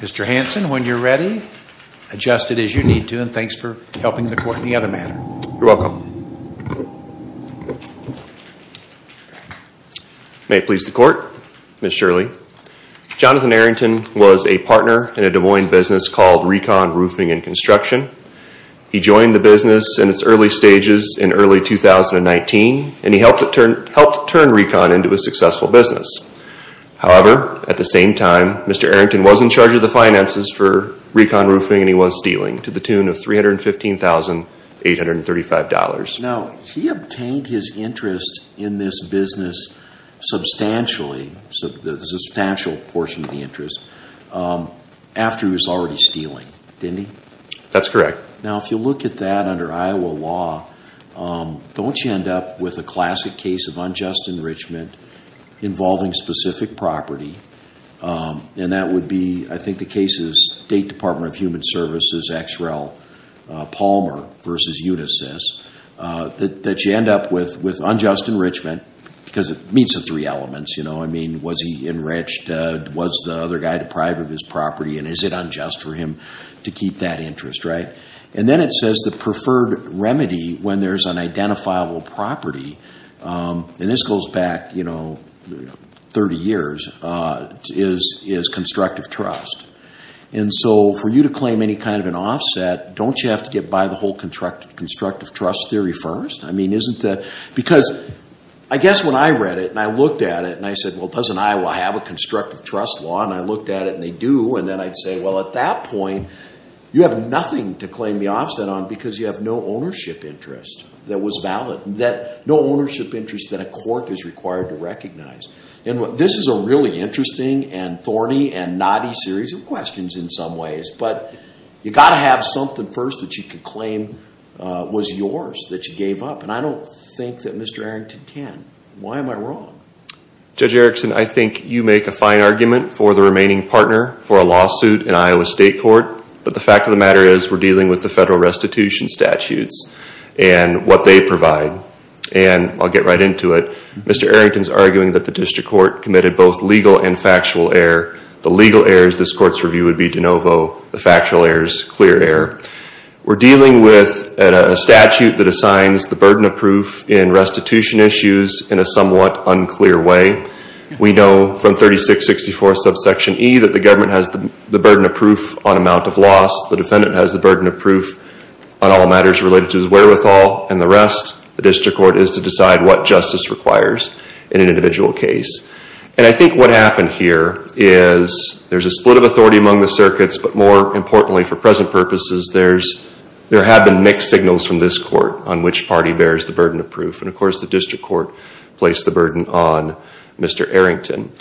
Mr. Hanson, when you're ready, adjust it as you need to and thanks for helping the other matter. You're welcome. May it please the court, Ms. Shirley. Jonathan Arrington was a partner in a Des Moines business called Recon Roofing and Construction. He joined the business in its early stages in early 2019 and he helped turn Recon into a successful business. However, at the same time, Mr. Arrington was in charge of the finances for Recon Roofing and he was dealing to the tune of $315,835. Now, he obtained his interest in this business substantially, the substantial portion of the interest, after he was already stealing, didn't he? That's correct. Now, if you look at that under Iowa law, don't you end up with a classic case of unjust enrichment involving specific property and that would be, I think the case is State Department of Human Services, XREL Palmer v. Utisis, that you end up with unjust enrichment because it meets the three elements, you know. I mean, was he enriched? Was the other guy deprived of his property and is it unjust for him to keep that interest, right? And then it says the preferred remedy when there's an identifiable property, and this goes back, you know, 30 years, is constructive trust. And so, for you to claim any kind of an offset, don't you have to get by the whole constructive trust theory first? I mean, isn't that, because I guess when I read it and I looked at it and I said, well, doesn't Iowa have a constructive trust law? And I looked at it and they do, and then I'd say, well, at that point, you have nothing to claim the offset on because you have no ownership interest that was valid, that no ownership interest that a court is required to recognize. And this is a really interesting and thorny and knotty series of questions in some ways, but you got to have something first that you could claim was yours, that you gave up. And I don't think that Mr. Arrington can. Why am I wrong? Judge Erickson, I think you make a fine argument for the remaining partner for a lawsuit in Iowa State Court, but the fact of the matter is we're dealing with the federal restitution statutes and what they provide. And I'll get right into it. Mr. Arrington's stated both legal and factual error. The legal errors, this court's review would be de novo. The factual errors, clear error. We're dealing with a statute that assigns the burden of proof in restitution issues in a somewhat unclear way. We know from 3664 subsection E that the government has the burden of proof on amount of loss. The defendant has the burden of proof on all matters related to his wherewithal and the rest. The district court is to decide what justice requires in an individual case. And I think what happened here is there's a split of authority among the circuits, but more importantly for present purposes, there have been mixed signals from this court on which party bears the burden of proof. And of course, the district court placed the burden on Mr. Arrington.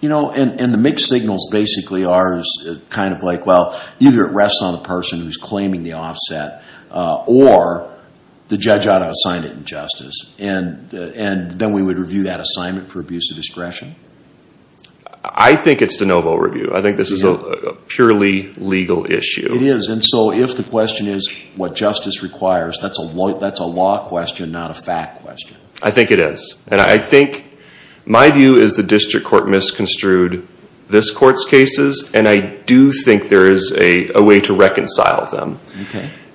You know, and the mixed signals basically are kind of like, well, either it rests on the person who's claiming the offset or the judge ought to assign it injustice. And then we would review that assignment for abuse of discretion? I think it's de novo review. I think this is a purely legal issue. It is. And so if the question is what justice requires, that's a law question, not a fact question. I think it is. And I think my view is the district court misconstrued this court's cases. And I do think there is a way to reconcile them.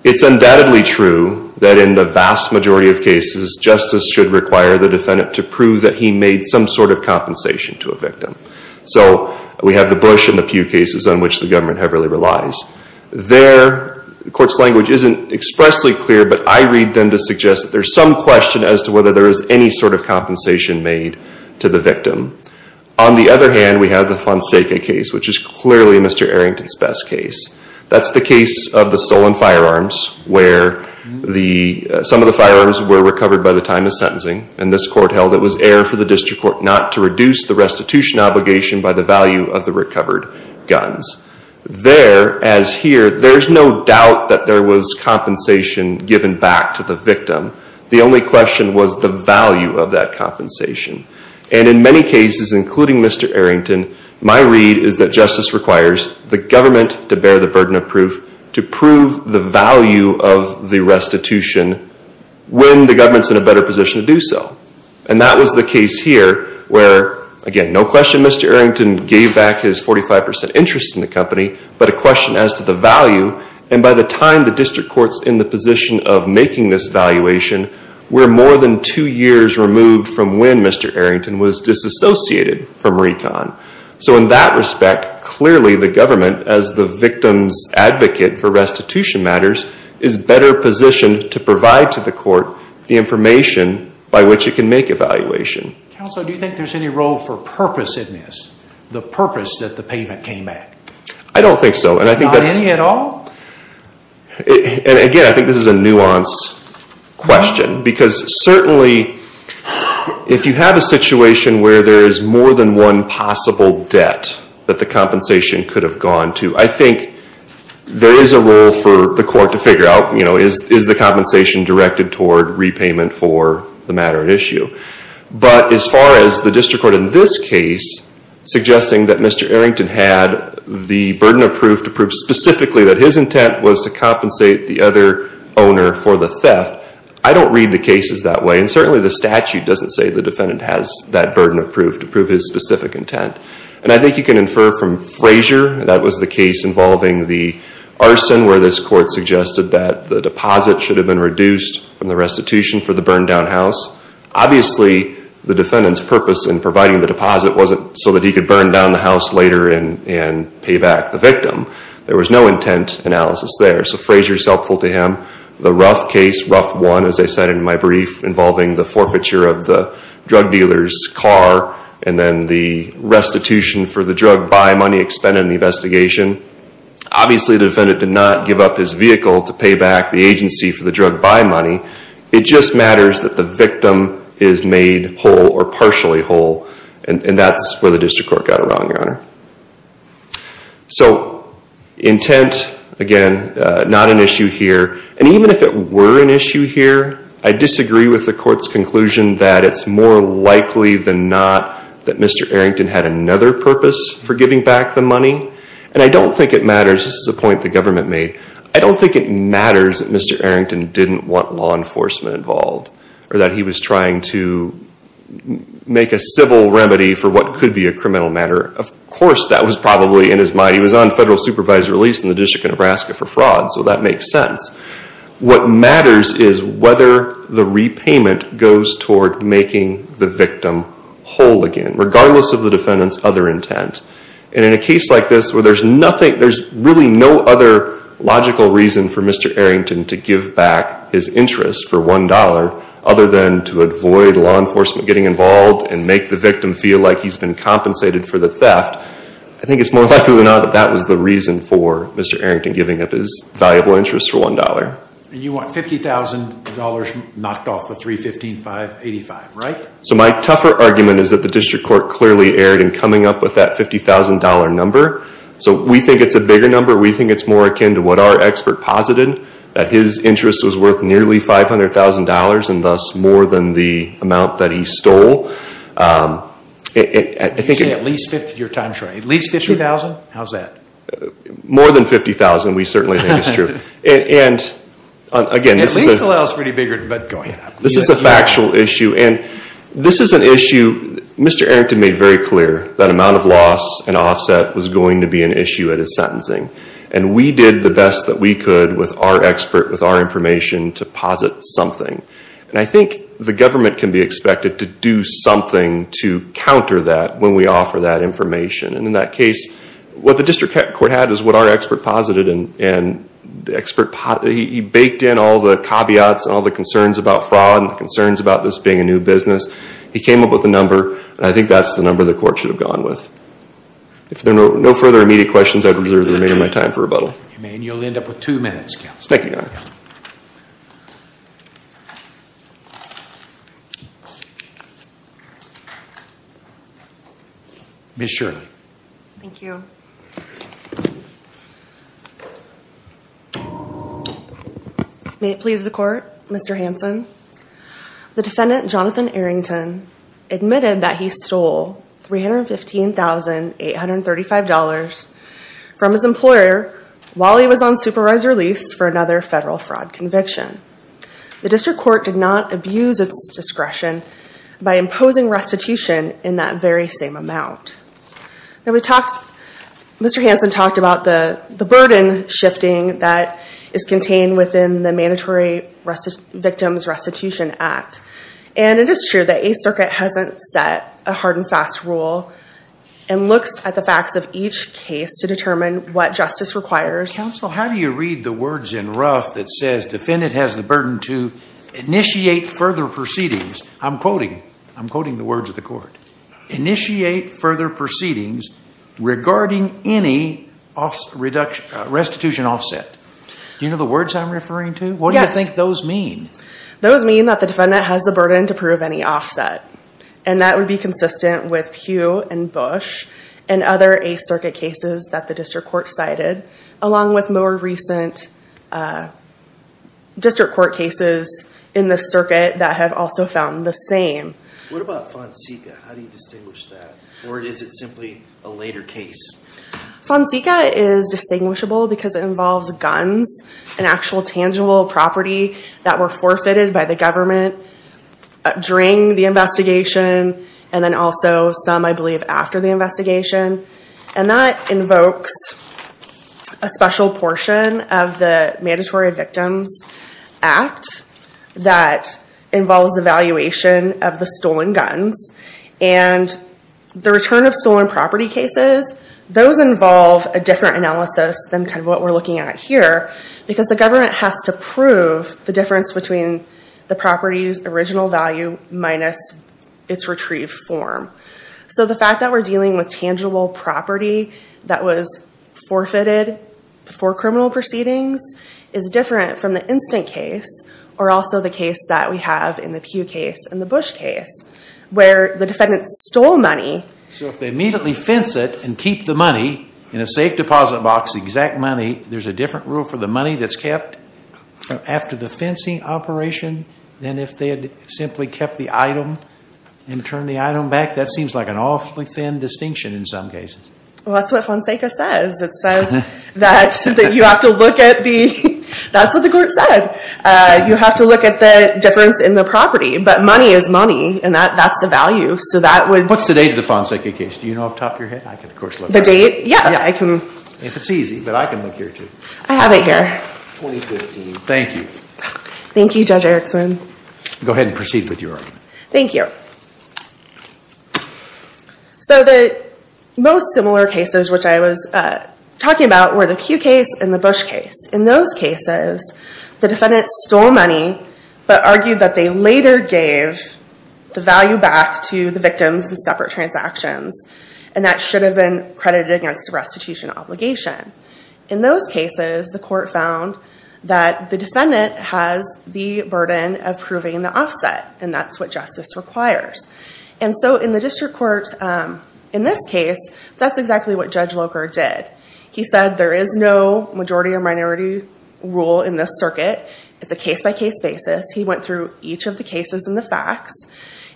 It's the vast majority of cases, justice should require the defendant to prove that he made some sort of compensation to a victim. So we have the Bush and the Pew cases on which the government heavily relies. Their court's language isn't expressly clear, but I read them to suggest that there's some question as to whether there is any sort of compensation made to the victim. On the other hand, we have the Fonseca case, which is clearly Mr. Arrington's best case. That's the case of the stolen firearms, where some of the firearms were recovered by the time of sentencing. And this court held it was error for the district court not to reduce the restitution obligation by the value of the recovered guns. There, as here, there's no doubt that there was compensation given back to the victim. The only question was the value of that compensation. And in many cases, including Mr. Arrington, my read is that justice requires the government to bear the burden of proof to prove the value of the restitution when the government's in a better position to do so. And that was the case here, where again, no question Mr. Arrington gave back his 45% interest in the company, but a question as to the value. And by the time the district court's in the position of making this valuation, we're more than two years removed from when Mr. So in that respect, clearly the government, as the victim's advocate for restitution matters, is better positioned to provide to the court the information by which it can make evaluation. Counsel, do you think there's any role for purposiveness, the purpose that the payment came at? I don't think so. And I think that's... Not any at all? And again, I think this is a debt that the compensation could have gone to. I think there is a role for the court to figure out, you know, is the compensation directed toward repayment for the matter at issue? But as far as the district court in this case suggesting that Mr. Arrington had the burden of proof to prove specifically that his intent was to compensate the other owner for the theft, I don't read the cases that way. And certainly the statute doesn't say the defendant has that intent. And I think you can infer from Frazier, that was the case involving the arson where this court suggested that the deposit should have been reduced from the restitution for the burned-down house. Obviously, the defendant's purpose in providing the deposit wasn't so that he could burn down the house later and pay back the victim. There was no intent analysis there. So Frazier's helpful to him. The Ruff case, Ruff 1, as I said in my brief, involving the forfeiture of the drug dealer's car and then the restitution for the drug buy money expended in the investigation. Obviously, the defendant did not give up his vehicle to pay back the agency for the drug buy money. It just matters that the victim is made whole or partially whole. And that's where the district court got it wrong, Your Honor. So intent, again, not an issue here. And even if it were an intent, it's a conclusion that it's more likely than not that Mr. Arrington had another purpose for giving back the money. And I don't think it matters, this is a point the government made, I don't think it matters that Mr. Arrington didn't want law enforcement involved or that he was trying to make a civil remedy for what could be a criminal matter. Of course, that was probably in his mind. He was on federal supervisory release in the District of Nebraska for fraud, so that makes sense. What matters is whether the repayment goes toward making the victim whole again, regardless of the defendant's other intent. And in a case like this where there's nothing, there's really no other logical reason for Mr. Arrington to give back his interest for $1 other than to avoid law enforcement getting involved and make the victim feel like he's been compensated for the theft, I think it's more likely than not that that was the reason for Mr. Arrington giving up his valuable interest for $1. And you want $50,000 knocked off the $315,585, right? So my tougher argument is that the District Court clearly erred in coming up with that $50,000 number. So we think it's a bigger number, we think it's more akin to what our expert posited, that his interest was worth nearly $500,000 and thus more than the amount that he stole. You say at least $50,000, you're time-shrinking. At least $50,000? How's that? More than $50,000, we certainly think it's true. At least L.L.'s pretty bigger, but go ahead. This is a factual issue, and this is an issue Mr. Arrington made very clear, that amount of loss and offset was going to be an issue at his sentencing. And we did the best that we could with our expert, with our information to posit something. And I think the government can be expected to do something to counter that when we offer that information. And in that case, what the District Court had is what our expert posited, and he baked in all the caveats and all the concerns about fraud and the concerns about this being a new business. He came up with a number, and I think that's the number the court should have gone with. If there are no further immediate questions, I would reserve the remainder of my time for rebuttal. You'll end up with two minutes. Thank you, Your Honor. Ms. Shirley. Thank you. May it please the Court, Mr. Hanson. The defendant, Jonathan Arrington, admitted that he stole $315,835 from his employer while he was on supervised release for another federal fraud conviction. The District Court did not abuse its discretion by imposing restitution in that very same amount. Mr. Hanson talked about the burden shifting that is contained within the Mandatory Victims Restitution Act. And it is true that Eighth Circuit hasn't set a hard and looks at the facts of each case to determine what justice requires. Counsel, how do you read the words in Ruff that says defendant has the burden to initiate further proceedings? I'm quoting. I'm quoting the words of the court. Initiate further proceedings regarding any restitution offset. Do you know the words I'm referring to? Yes. What do you think those mean? Those mean that the defendant has the burden to prove any offset. And that would be consistent with Pugh and Bush and other Eighth Circuit cases that the District Court cited, along with more recent District Court cases in the circuit that have also found the same. What about Fonseca? How do you distinguish that? Or is it simply a later case? Fonseca is distinguishable because it involves guns, an actual tangible property that were forfeited by the government during the investigation and then also some, I believe, after the investigation. And that invokes a special portion of the Those involve a different analysis than what we're looking at here because the government has to prove the difference between the property's original value minus its retrieved form. So the fact that we're dealing with tangible property that was forfeited before criminal proceedings is different from the instant case or also the case that we have in the Pugh case and the Bush case where the defendant stole money. So if they immediately fence it and keep the money in a safe deposit box, exact money, there's a different rule for the money that's kept after the fencing operation than if they had simply kept the item and turned the item back? That seems like an awfully thin distinction in some cases. Well, that's what Fonseca says. It says that you have to look at the, that's what the court said. You have to look at the difference in the property. But money is money and that's the value. What's the date of the Fonseca case? Do you know off the top of your head? The date? Yeah. If it's easy, but I can look here too. I have it here. 2015. Thank you. Thank you, Judge Erickson. Go ahead and proceed with your argument. Thank you. So the most similar cases which I was talking about were the Pugh case and the Bush case. In those cases, the defendant stole money but argued that they later gave the value back to the victims in separate transactions. And that should have been credited against a restitution obligation. In those cases, the court found that the defendant has the burden of proving the offset. And that's what justice requires. And so in the district court, in this case, that's exactly what Judge Locher did. He said there is no majority or minority rule in this circuit. It's a case-by-case basis. He went through each of the cases and the facts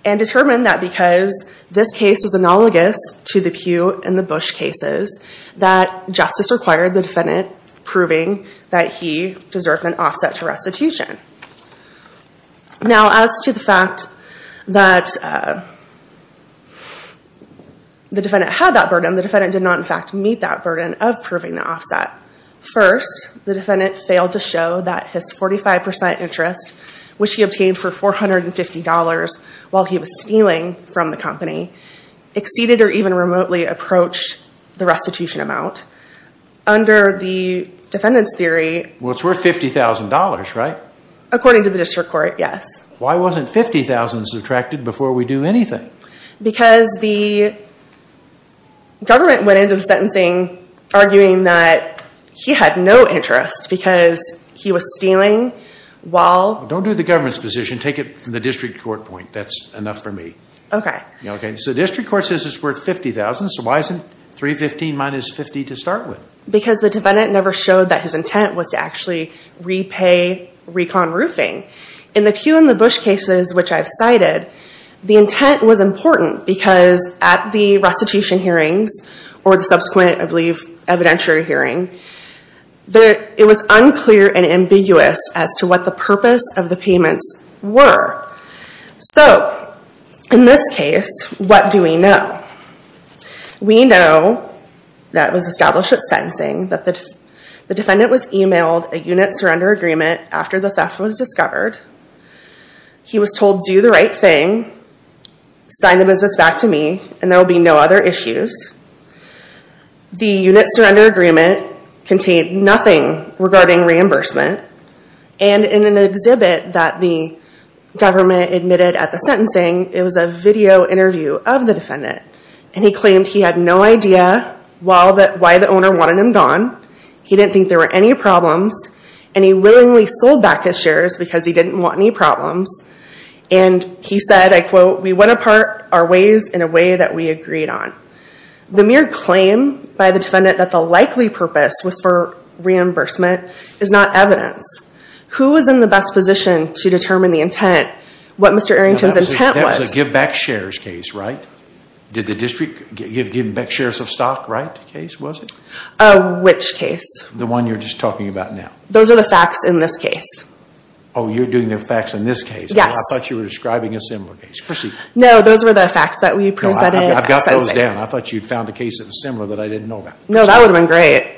and determined that because this case was analogous to the Pugh and the Bush cases, that justice required the defendant proving that he deserved an offset to restitution. Now as to the fact that the defendant had that burden, the defendant did not in fact meet that burden of proving the offset. First, the defendant failed to show that his 45% interest, which he obtained for $450 while he was stealing from the company, exceeded or even remotely approached the restitution amount. Under the defendant's theory... Well, it's worth $50,000, right? According to the district court, yes. Why wasn't $50,000 subtracted before we do anything? Because the government went into the sentencing arguing that he had no interest because he was stealing while... Don't do the government's position. Take it from the district court point. That's enough for me. Okay. So the district court says it's worth $50,000, so why isn't $315,000 minus $50,000 to start with? Because the defendant never showed that his intent was to actually repay recon roofing. In the Pew and the Bush cases, which I've cited, the intent was important because at the restitution hearings, or the subsequent, I believe, evidentiary hearing, it was unclear and ambiguous as to what the purpose of the payments were. So in this case, what do we know? We know that it was established at sentencing that the defendant was emailed a unit surrender agreement after the theft was discovered. He was told, do the right thing, sign the business back to me, and there will be no other issues. The unit surrender agreement contained nothing regarding reimbursement. And in an exhibit that the government admitted at the sentencing, it was a video interview of the defendant. And he claimed he had no idea why the owner wanted him gone, he didn't think there were any problems, and he willingly sold back his shares because he didn't want any problems. And he said, I quote, we went apart our ways in a way that we agreed on. The mere claim by the defendant that the likely purpose was for reimbursement is not evidence. Who was in the best position to determine the intent, what Mr. Arrington's intent was? That was a give back shares case, right? Did the district give back shares of stock, right, case, was it? Which case? The one you're just talking about now. Those are the facts in this case. Oh, you're doing the facts in this case. Yes. I thought you were describing a similar case. Proceed. No, those were the facts that we presented at sentencing. I've got those down. I thought you'd found a case that was similar that I didn't know about. No, that would have been great.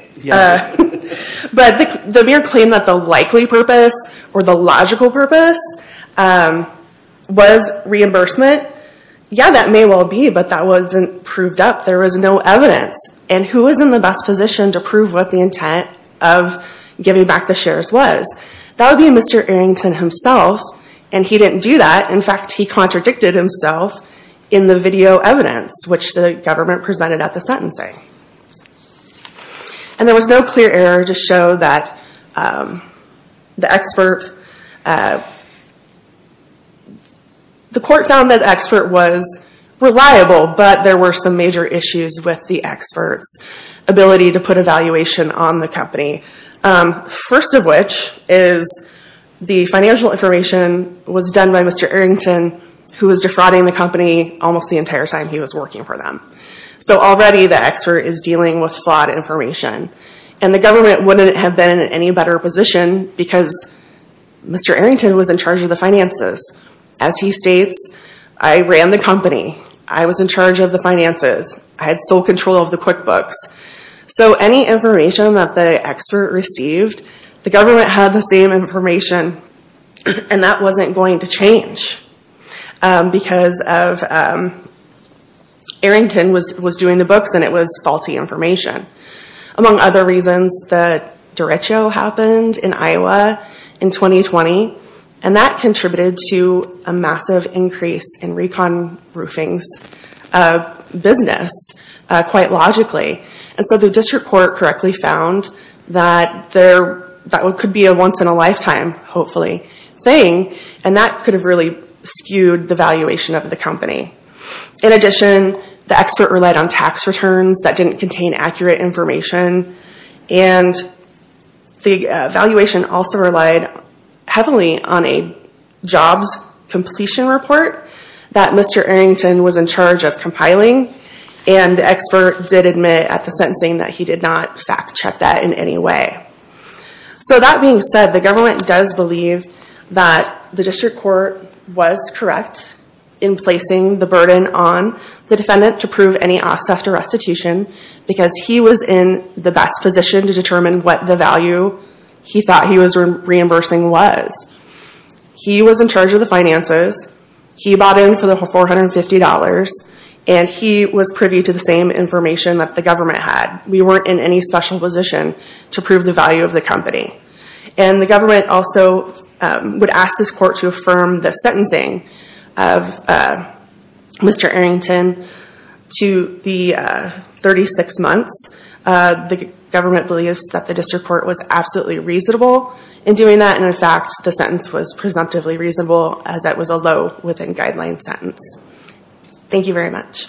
But the mere claim that the likely purpose or the logical purpose was reimbursement, yeah, that may well be, but that wasn't proved up. There was no evidence. And who was in the best position to prove what the intent of giving back the shares was? That would be Mr. Arrington himself, and he didn't do that. In fact, he contradicted himself in the video evidence, which the government presented at the sentencing. And there was no clear error to show that the expert, the court found that the expert was reliable, but there were some major issues with the expert's ability to put a valuation on the company. First of which is the financial information was done by Mr. Arrington, who was defrauding the company almost the entire time he was working for them. So already the expert is dealing with flawed information. And the government wouldn't have been in any better position because Mr. Arrington was in charge of the finances. As he states, I ran the company. I was in charge of the finances. I had sole control of the QuickBooks. So any information that the expert received, the government had the same information, and that wasn't going to change because Arrington was doing the books and it was faulty information. Among other reasons, the derecho happened in Iowa in 2020, and that contributed to a massive increase in Recon Roofing's business quite logically. And so the district court correctly found that that could be a once-in-a-lifetime, hopefully, thing, and that could have really skewed the valuation of the company. In addition, the expert relied on tax returns that didn't contain accurate information, and the valuation also relied heavily on a jobs completion report that Mr. Arrington was in charge of compiling. And the expert did admit at the sentencing that he did not fact-check that in any way. So that being said, the government does believe that the district court was correct in placing the burden on the defendant to prove any offset or restitution because he was in the best position to determine what the value he thought he was reimbursing was. He was in charge of the finances. He bought in for the $450. And he was privy to the same information that the government had. We weren't in any special position to prove the value of the company. And the government also would ask this court to affirm the sentencing of Mr. Arrington to the 36 months. The government believes that the district court was absolutely reasonable in doing that, and, in fact, the sentence was presumptively reasonable as it was a low-within guideline sentence. Thank you very much.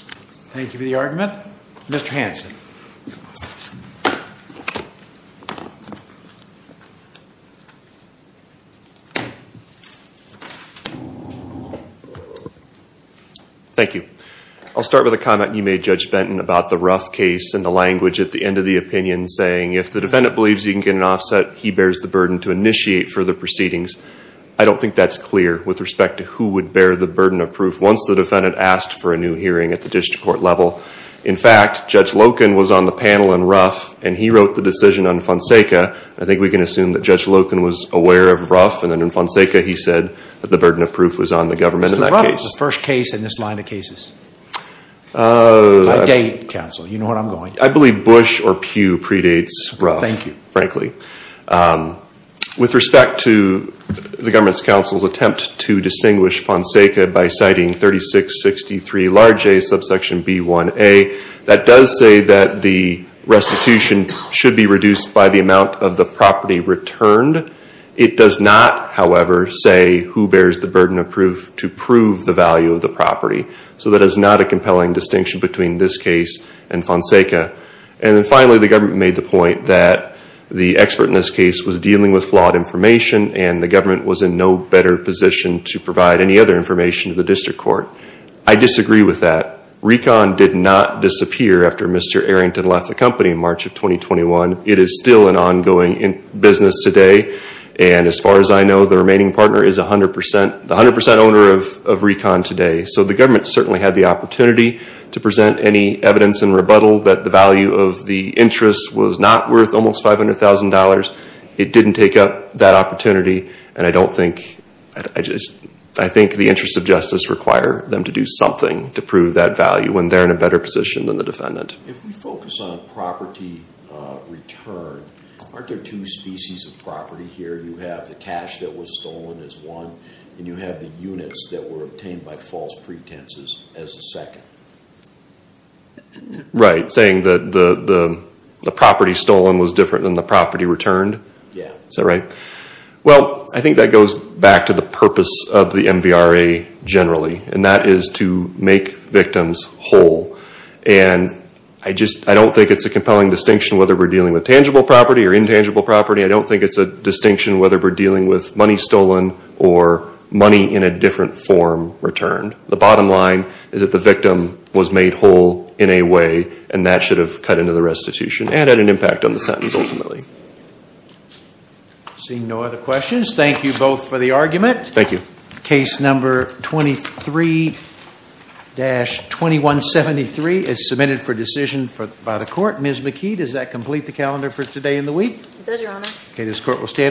Thank you for the argument. Mr. Hanson. Thank you. I'll start with a comment you made, Judge Benton, about the rough case and the language at the end of the opinion saying, if the defendant believes he can get an offset, he bears the burden to initiate further proceedings. I don't think that's clear with respect to who would bear the burden of proof once the defendant asked for a new hearing at the district court level. In fact, Judge Loken was on the panel in Ruff, and he wrote the decision on Fonseca. I think we can assume that Judge Loken was aware of Ruff, and then in Fonseca he said that the burden of proof was on the government in that case. Mr. Ruff was the first case in this line of cases. I date, counsel. You know what I'm going to do. I believe Bush or Pew predates Ruff, frankly. With respect to the government's counsel's attempt to distinguish Fonseca by citing 3663 large A, subsection B1A, that does say that the restitution should be reduced by the amount of the property returned. It does not, however, say who bears the burden of proof to prove the value of the property. So that is not a compelling distinction between this case and Fonseca. And then finally, the government made the point that the expert in this case was dealing with flawed information, and the government was in no better position to provide any other information to the district court. I disagree with that. Recon did not disappear after Mr. Arrington left the company in March of 2021. It is still an ongoing business today. And as far as I know, the remaining partner is 100 percent, the 100 percent owner of Recon today. So the government certainly had the opportunity to present any evidence in rebuttal that the value of the interest was not worth almost $500,000. It didn't take up that opportunity. And I don't think, I think the interests of justice require them to do something to prove that value when they're in a better position than the defendant. If we focus on property return, aren't there two species of property here? You have the cash that was stolen as one, and you have the units that were obtained by false pretenses as a second. Right. Saying that the property stolen was different than the property returned? Yeah. Is that right? Well, I think that goes back to the purpose of the MVRA generally, and that is to make victims whole. And I just, I don't think it's a compelling distinction whether we're dealing with tangible property or intangible property. I don't think it's a distinction whether we're dealing with money stolen or money in a different form returned. The bottom line is that the victim was made whole in a way, and that should have cut into the restitution and had an impact on the sentence ultimately. I see no other questions. Thank you both for the argument. Thank you. Case number 23-2173 is submitted for decision by the Court. It does, Your Honor. Okay, this Court will stand.